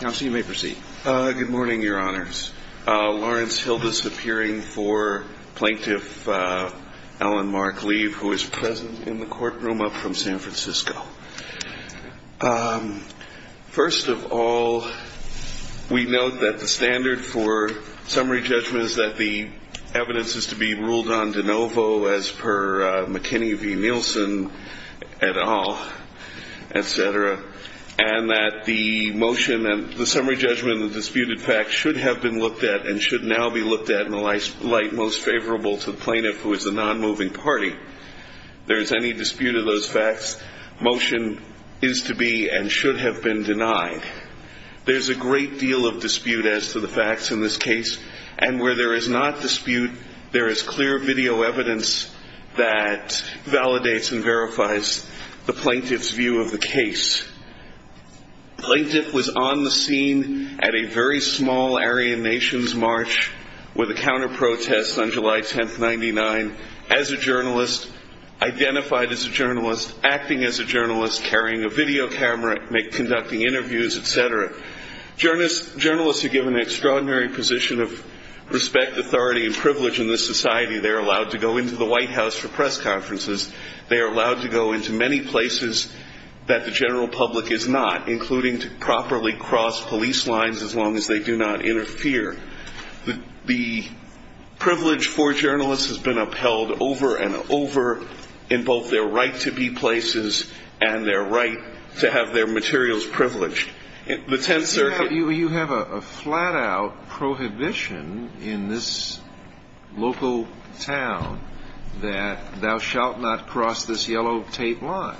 Good morning, Your Honors. Lawrence Hildas appearing for Plaintiff Alan Mark Liev, who is present in the courtroom up from San Francisco. First of all, we note that the standard for summary judgment is that the evidence is to be ruled on de novo as per McKinney v. Nielsen et al., etc., and that the motion and the summary judgment of the disputed facts should have been looked at and should now be looked at in the light most favorable to the plaintiff who is the non-moving party. If there is any dispute of those facts, the motion is to be and should have been denied. There is a great deal of dispute as to the facts in this case, and where there is not dispute, there is clear video evidence that validates and verifies the plaintiff's view of the case. The plaintiff was on the scene at a very small Aryan Nations march with a counter-protest on July 10, 1999, as a journalist, identified as a journalist, acting as a journalist, carrying a video camera, conducting interviews, etc. Journalists are given an extraordinary position of respect, authority, and privilege in this society. They are allowed to go into the White House for press conferences. They are allowed to go into many places that the general public is not, including to properly cross police lines as long as they do not interfere. The privilege for journalists has been upheld over and over in both their right to be places and their right to have their materials privileged. You have a flat-out prohibition in this local town that thou shalt not cross this yellow tape line.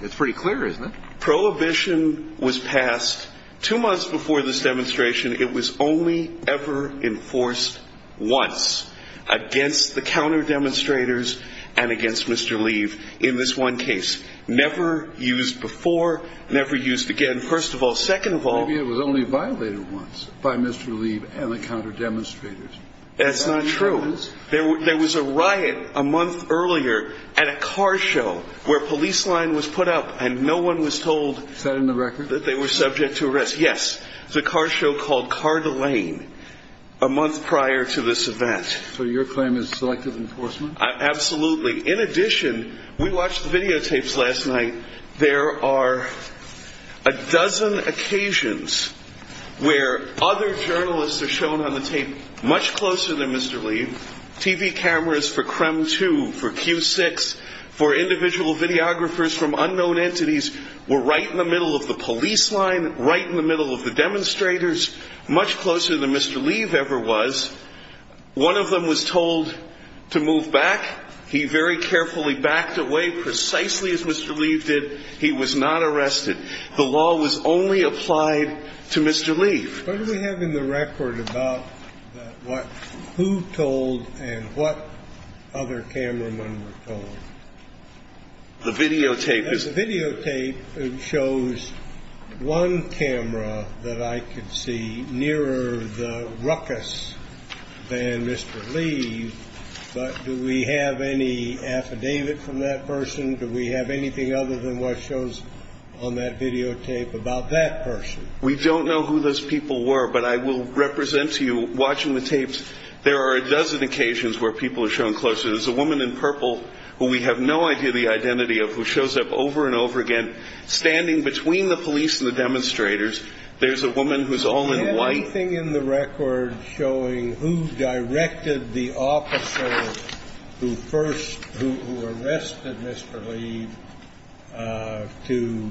It's pretty clear, isn't it? Prohibition was passed two months before this demonstration. It was only ever enforced once, against the counter-demonstrators and against Mr. Leeve in this one case. Never used before, never used again. First of all, second of all... Maybe it was only violated once by Mr. Leeve and the counter-demonstrators. That's not true. There was a riot a month earlier at a car show where a police line was put up and no one was told... Is that in the record? ...that they were subject to arrest. Yes. It was a car show called Car de Lane a month prior to this event. So your claim is selective enforcement? Absolutely. In addition, we watched the videotapes last night. There are a dozen occasions where other journalists are shown on the tape much closer than Mr. Leeve. TV cameras for CREM 2, for Q6, for individual videographers from unknown entities were right in the middle of the police line, right in the middle of the demonstrators, much closer than Mr. Leeve ever was. One of them was told to move back. He very carefully backed away, precisely as Mr. Leeve did. He was not arrested. The law was only applied to Mr. Leeve. What do we have in the record about who told and what other cameramen were told? The videotape is... ...one camera that I could see nearer the ruckus than Mr. Leeve, but do we have any affidavit from that person? Do we have anything other than what shows on that videotape about that person? We don't know who those people were, but I will represent to you, watching the tapes, there are a dozen occasions where people are shown closer. There's a woman in purple who we have no idea the identity of, who shows up over and over again, standing between the police and the demonstrators. There's a woman who's all in white... Do we have anything in the record showing who directed the officer who first, who arrested Mr. Leeve to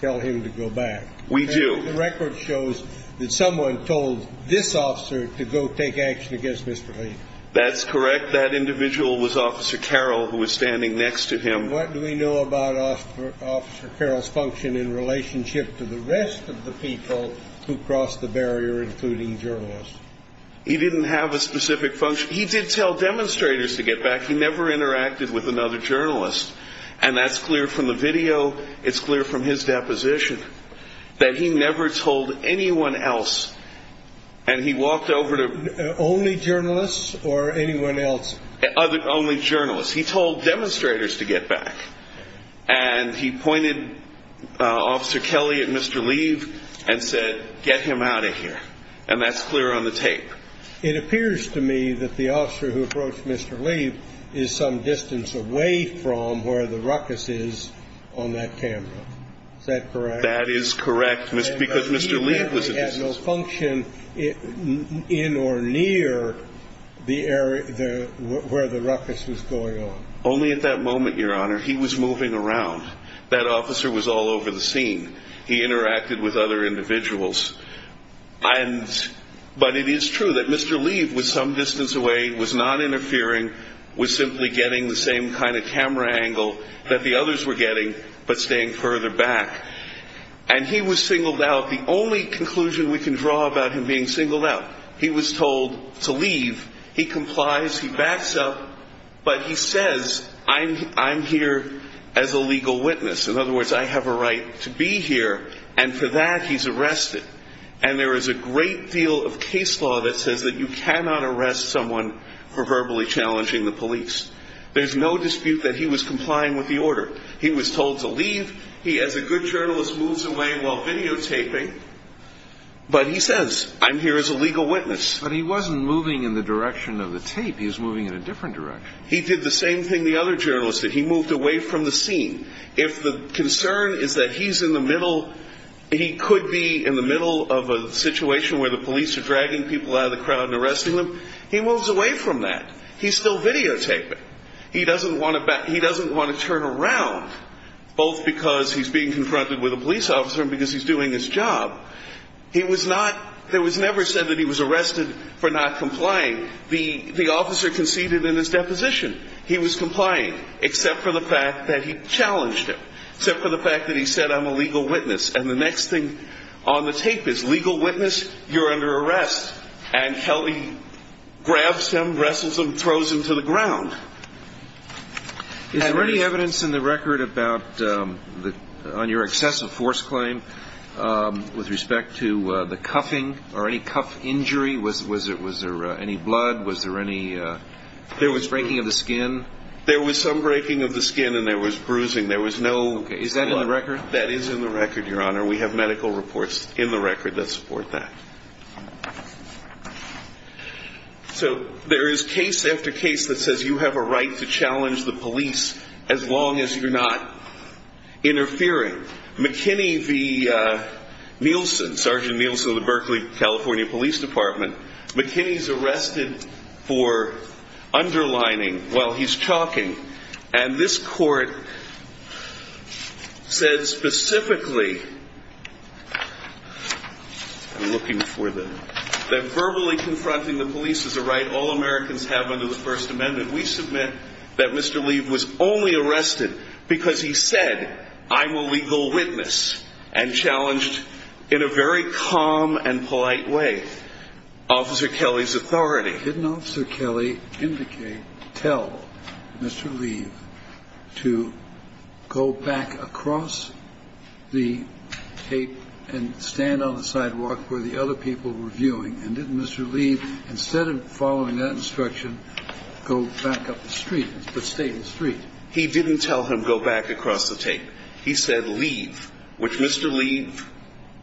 tell him to go back? We do. And the record shows that someone told this officer to go take action against Mr. Leeve. That's correct. That individual was Officer Carroll, who was standing next to him. What do we know about Officer Carroll's function in relationship to the rest of the people who crossed the barrier, including journalists? He didn't have a specific function. He did tell demonstrators to get back. He never interacted with another journalist, and that's clear from the video. It's clear from his deposition that he never told anyone else, and he walked over to... Only journalists or anyone else? Only journalists. He told demonstrators to get back, and he pointed Officer Kelly at Mr. Leeve and said, get him out of here, and that's clear on the tape. It appears to me that the officer who approached Mr. Leeve is some distance away from where the ruckus is on that camera. Is that correct? That is correct, because Mr. Leeve was in the distance. Only at that moment, Your Honor, he was moving around. That officer was all over the scene. He interacted with other individuals, but it is true that Mr. Leeve was some distance away, was not interfering, was simply getting the same kind of camera angle that the others were getting, but staying further back. And he was singled out. The only conclusion we can draw about him being singled out, he was told to leave. He complies, he backs up, but he says, I'm here as a legal witness. In other words, I have a right to be here, and for that, he's arrested. And there is a great deal of case law that says that you cannot arrest someone for verbally challenging the police. There's no dispute that he was complying with the order. He was told to leave. He, as a good journalist, moves away while he says, I'm here as a legal witness. But he wasn't moving in the direction of the tape. He was moving in a different direction. He did the same thing the other journalist did. He moved away from the scene. If the concern is that he's in the middle, he could be in the middle of a situation where the police are dragging people out of the crowd and arresting them, he moves away from that. He's still videotaping. He doesn't want to turn around, both because he's being confronted with a police officer and because he's doing his job. He was not, it was never said that he was arrested for not complying. The officer conceded in his deposition. He was complying, except for the fact that he challenged him, except for the fact that he said, I'm a legal witness. And the next thing on the tape is, legal witness, you're under arrest. And Kelly grabs him, wrestles him, throws him to the ground. Is there any evidence in the record about the, on your excessive force claim with respect to the cuffing or any cuff injury? Was there any blood? Was there any breaking of the skin? There was some breaking of the skin and there was bruising. There was no blood. Is that in the record? That is in the record, Your Honor. We have medical reports in the record that support that. So there is case after case that says you have a right to challenge the police as long as you're not interfering. McKinney v. Nielsen, Sergeant Nielsen of the Berkeley, California Police Department, McKinney's arrested for underlining while he's talking. And this court said specifically, I'm looking for the, that verbally confronting the police is a right all Americans have under the First Amendment. We submit that Mr. Leeve was only arrested because he said, I'm a legal witness and challenged in a very calm and polite way Officer Kelly's authority. But didn't Officer Kelly indicate, tell Mr. Leeve to go back across the tape and stand on the sidewalk where the other people were viewing? And didn't Mr. Leeve, instead of following that instruction, go back up the street, but stay in the street? He didn't tell him go back across the tape. He said, leave, which Mr. Leeve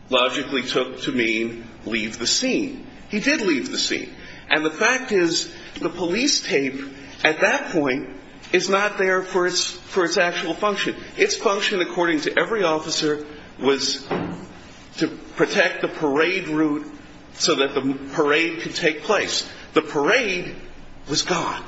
logically took to mean leave the scene. He did leave the scene. And the fact is, the police tape at that point is not there for its actual function. Its function, according to every officer, was to protect the parade route so that the parade could take place. The parade was gone.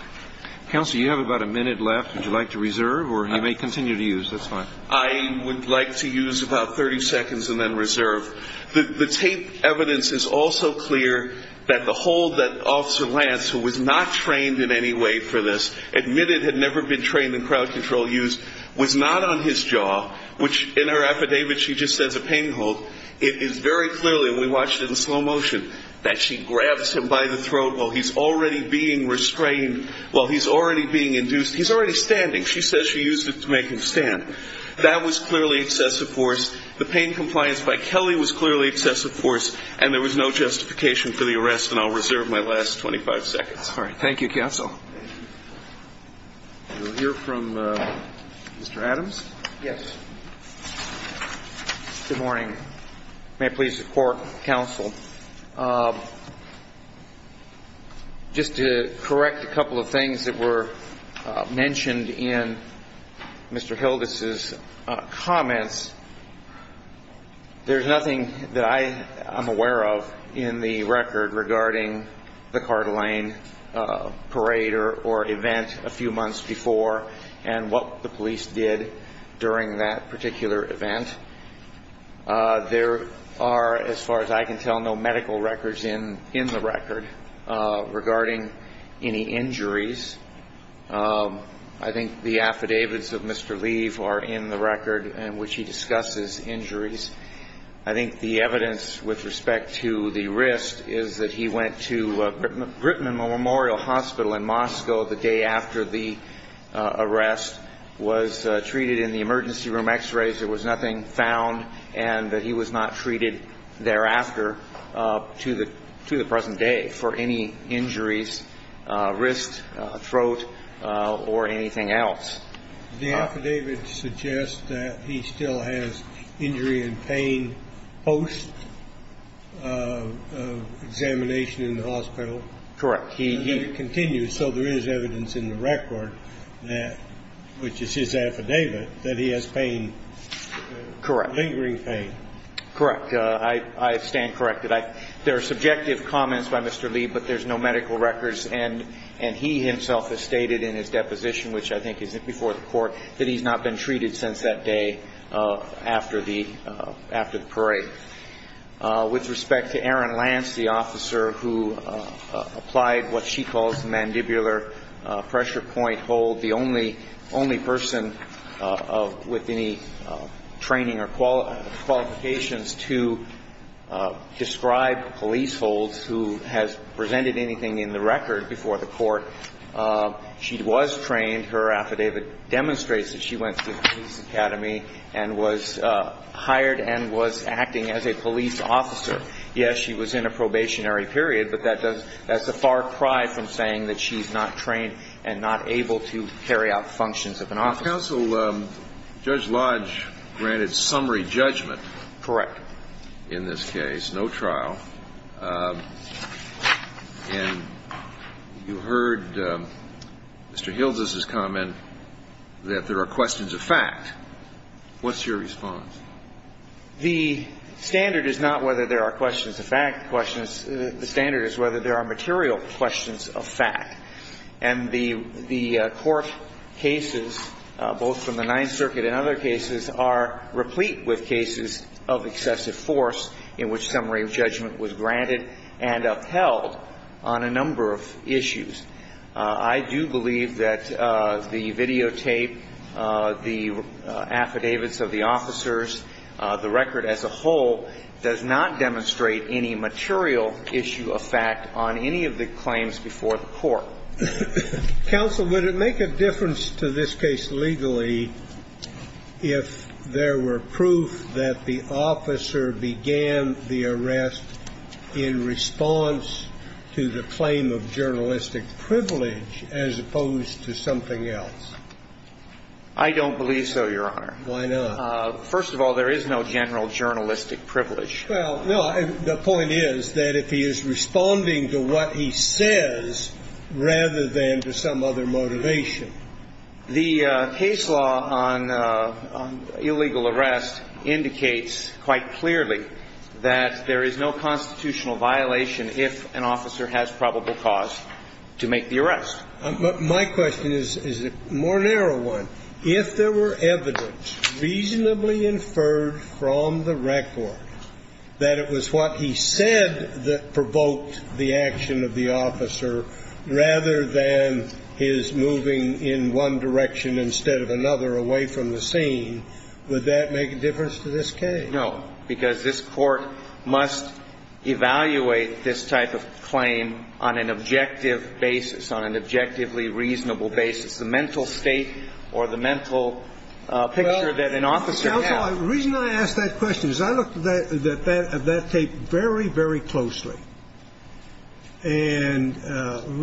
Counsel, you have about a minute left. Would you like to reserve or you may continue to use? That's fine. I would like to use about 30 seconds and then reserve. The tape evidence is also clear that the hold that Officer Lance, who was not trained in any way for this, admitted had never been trained in crowd control use, was not on his jaw, which in her affidavit she just says a pain hold. It is very clearly, and we watched it in slow motion, that she grabs him by the throat while he's already being restrained, while he's already being induced. He's already standing. She says she used it to make him stand. That was clearly excessive force. The pain compliance by Kelly was clearly excessive force, and there was no justification for the arrest, and I'll reserve my last 25 seconds. All right. Thank you, Counsel. Thank you. We'll hear from Mr. Adams. Yes. Good morning. May I please report, Counsel, just to correct a couple of things that were mentioned in Mr. Hildes' comments. There's nothing that I am aware of in the record regarding the Coeur d'Alene parade or event a few months before and what the police did during that particular event. There are, as far as I can tell, no medical records in the record regarding any injuries. I think the affidavits of Mr. Lee are in the record in which he discusses injuries. I think the evidence with respect to the wrist is that he went to Britain Memorial Hospital in Moscow the day after the arrest, was treated in the emergency room, x-rays. There was nothing found, and that he was not treated thereafter to the present day for any injuries, wrist, throat, or anything else. The affidavit suggests that he still has injury and pain post examination in the hospital. Correct. And it continues, so there is evidence in the record that, which is his affidavit, that he has pain. Correct. Lingering pain. Correct. I stand corrected. There are subjective comments by Mr. Lee, but there's no medical records, and he himself has stated in his deposition, which I think is before the court, that he's not been treated since that day after the parade. With respect to Erin Lance, the officer who applied what she calls the mandibular pressure point hold, the only person with any training or qualifications to describe police holds who has presented anything in the record before the court, she was trained. Her affidavit demonstrates that she went to the police academy and was hired and was acting as a police officer. Yes, she was in a probationary period, but that's a far cry from saying that she's not trained and not able to carry out functions of an officer. Counsel, Judge Lodge granted summary judgment. Correct. In this case, no trial. And you heard Mr. Hilda's comment that there are questions of fact. What's your response? The standard is not whether there are questions of fact. The standard is whether there are And the court cases, both from the Ninth Circuit and other cases, are replete with cases of excessive force in which summary judgment was granted and upheld on a number of issues. I do believe that the videotape, the affidavits of the officers, the record as a whole, does not demonstrate any material issue of fact on any of the claims before the court. Counsel, would it make a difference to this case legally if there were proof that the officer began the arrest in response to the claim of journalistic privilege as opposed to something else? I don't believe so, Your Honor. Why not? First of all, there is no general journalistic privilege. Well, no, the point is that if he is responding to what he says rather than to some other motivation. The case law on illegal arrest indicates quite clearly that there is no constitutional violation if an officer has probable cause to make the arrest. My question is a more narrow one. If there were evidence reasonably inferred from the record that it was what he said that provoked the action of the officer rather than his moving in one direction instead of another away from the scene, would that make a difference to this case? No. Because this Court must evaluate this type of claim on an objective basis, on an objectively reasonable basis, the mental state or the mental picture that an officer has. Counsel, the reason I ask that question is I looked at that tape very, very closely and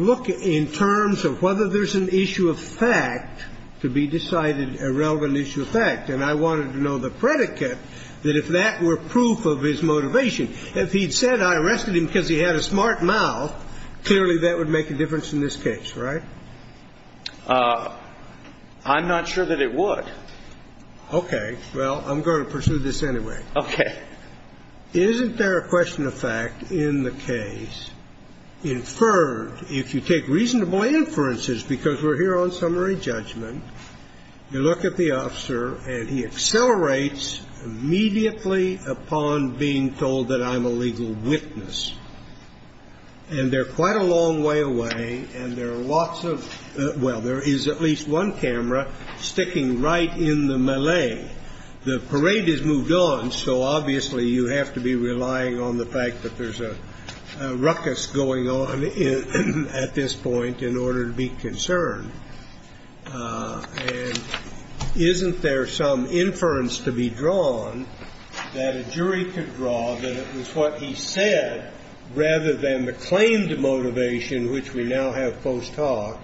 look in terms of whether there's an issue of fact to be decided a relevant issue of fact. And I wanted to know the predicate that if that were proof of his motivation. If he'd said I arrested him because he had a smart mouth, clearly that would make a difference in this case, right? I'm not sure that it would. Okay. Well, I'm going to pursue this anyway. Okay. Isn't there a question of fact in the case inferred, if you take reasonable inferences, because we're here on summary judgment, you look at the officer and he accelerates immediately upon being told that I'm a legal witness. And they're quite a long way away, and there are lots of, well, there is at least one camera sticking right in the melee. The parade has moved on, so obviously you have to be relying on the fact that there's a ruckus going on at this point in order to be concerned. And isn't there some inference to be drawn that a jury could draw that it was what he said, rather than the claimed motivation, which we now have post hoc,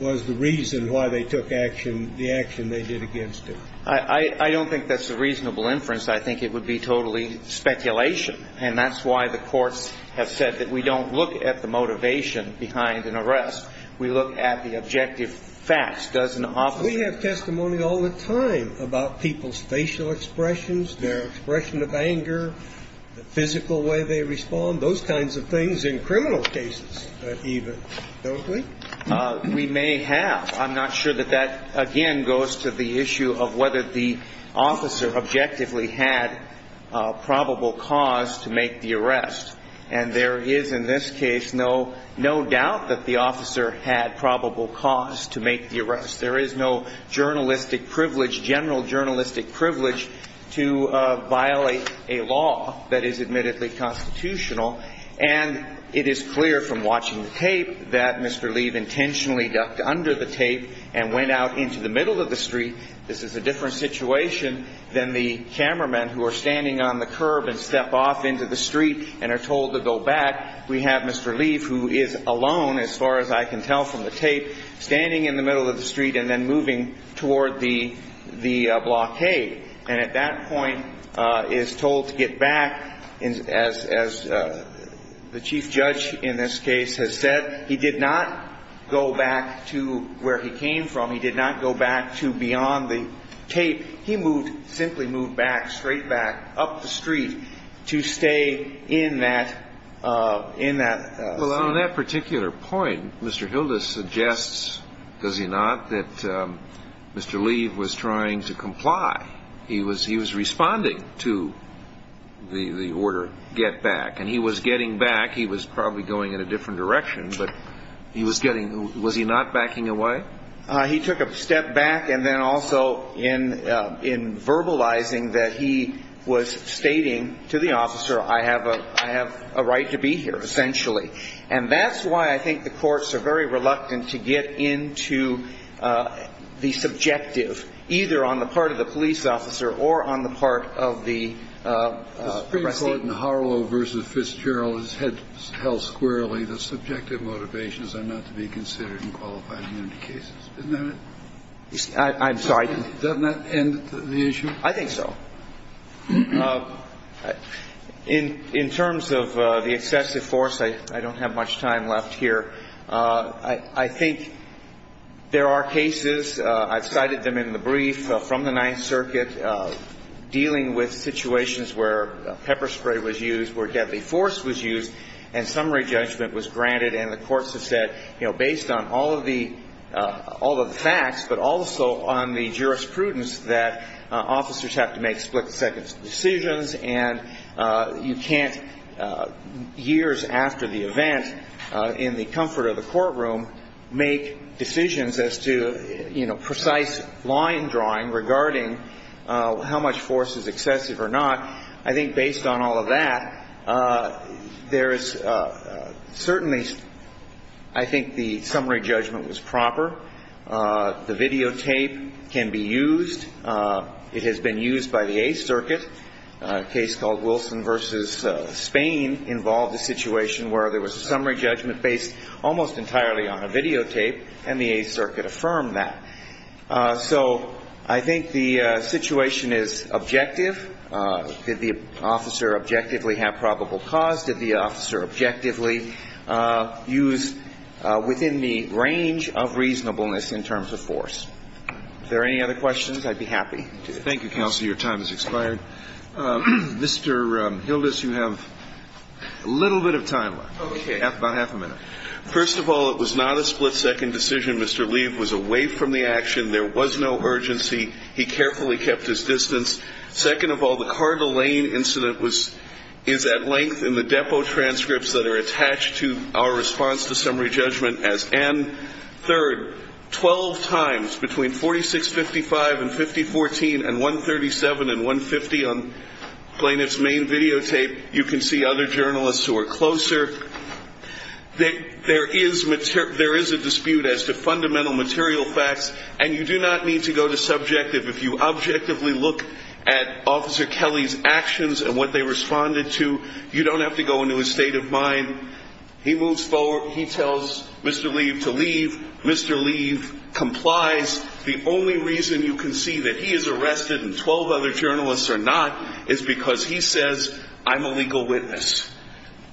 was the reason why they took action, the action they did against him? I don't think that's a reasonable inference. I think it would be totally speculation. And that's why the courts have said that we don't look at the motivation behind an arrest. We look at the objective facts. Does an officer do that? We have testimony all the time about people's facial expressions, their expression of anger, the physical way they respond, those kinds of things in criminal cases, don't we? We may have. I'm not sure that that, again, goes to the issue of whether the officer objectively had probable cause to make the arrest. And there is, in this case, no doubt that the officer had probable cause to make the arrest. There is no journalistic privilege, general journalistic privilege, to violate a law that is admittedly constitutional. And it is clear from watching the tape that Mr. Lee intentionally ducked under the tape and went out into the middle of the street. This is a different situation than the cameraman who are standing on the curb and step off into the street and are told to go back. We have Mr. Lee, who is alone, as far as I can tell from the tape, standing in the middle of the street and then moving toward the blockade. And at that point is told to get back, as the chief judge in this case has said, he did not go back to where he came from. He did not go back to beyond the tape. He simply moved back, straight back, up the street to stay in that scene. Well, on that particular point, Mr. Hilda suggests, does he not, that Mr. Lee was trying to comply. He was responding to the order, get back. And he was getting back. He was probably going in a different direction. But he was getting, was he not backing away? He took a step back and then also in verbalizing that he was stating to the officer, I have a right to be here, essentially. And that's why I think the courts are very reluctant to get into the subjective, either on the part of the police officer or on the part of the. The Supreme Court in Harlow versus Fitzgerald has held squarely the subjective motivations are not to be considered in qualified immunity cases. Isn't that it? I'm sorry. Does that not end the issue? I think so. In terms of the excessive force, I don't have much time left here. I think there are cases, I've cited them in the brief from the Ninth Circuit, dealing with situations where pepper spray was used, where deadly force was used, and summary judgment was granted. And the courts have said, based on all of the facts, but also on the jurisprudence that officers have to make split-second decisions, and you can't, years after the event, in the comfort of the courtroom, make decisions as to precise line drawing regarding how much force is excessive or not. I think based on all of that, there is certainly, I think the summary judgment was proper. The videotape can be used. It has been used by the Eighth Circuit. A case called Wilson versus Spain involved a situation where there was a summary judgment based almost entirely on a videotape, and the Eighth Circuit affirmed that. So I think the situation is objective. Did the officer objectively have probable cause? Did the officer objectively use within the range of reasonableness in terms of force? If there are any other questions, I'd be happy to. Thank you, Counselor. Your time has expired. Mr. Hildas, you have a little bit of time left, about half a minute. First of all, it was not a split-second decision. Mr. Lee was away from the action. There was no urgency. He carefully kept his distance. Second of all, the Carter Lane incident is at length in the depot transcripts that are attached to our response to summary judgment as and. Third, 12 times between 4655 and 5014 and 137 and 150 on plaintiff's main videotape, you can see other journalists who are closer. There is a dispute as to fundamental material facts, and you do not need to go to subjective. If you objectively look at Officer Kelly's actions and what they responded to, you don't have to go into a state of mind. He moves forward. He tells Mr. Lee to leave. Mr. Lee complies. The only reason you can see that he is arrested and 12 other journalists are not is because he says, I'm a legal witness.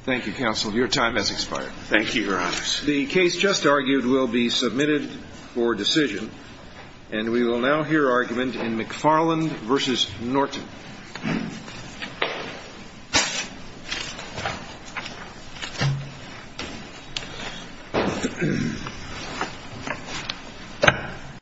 Thank you, Counsel. Your time has expired. Thank you, Your Honor. The case just argued will be submitted for decision. And we will now hear argument in McFarland versus Norton.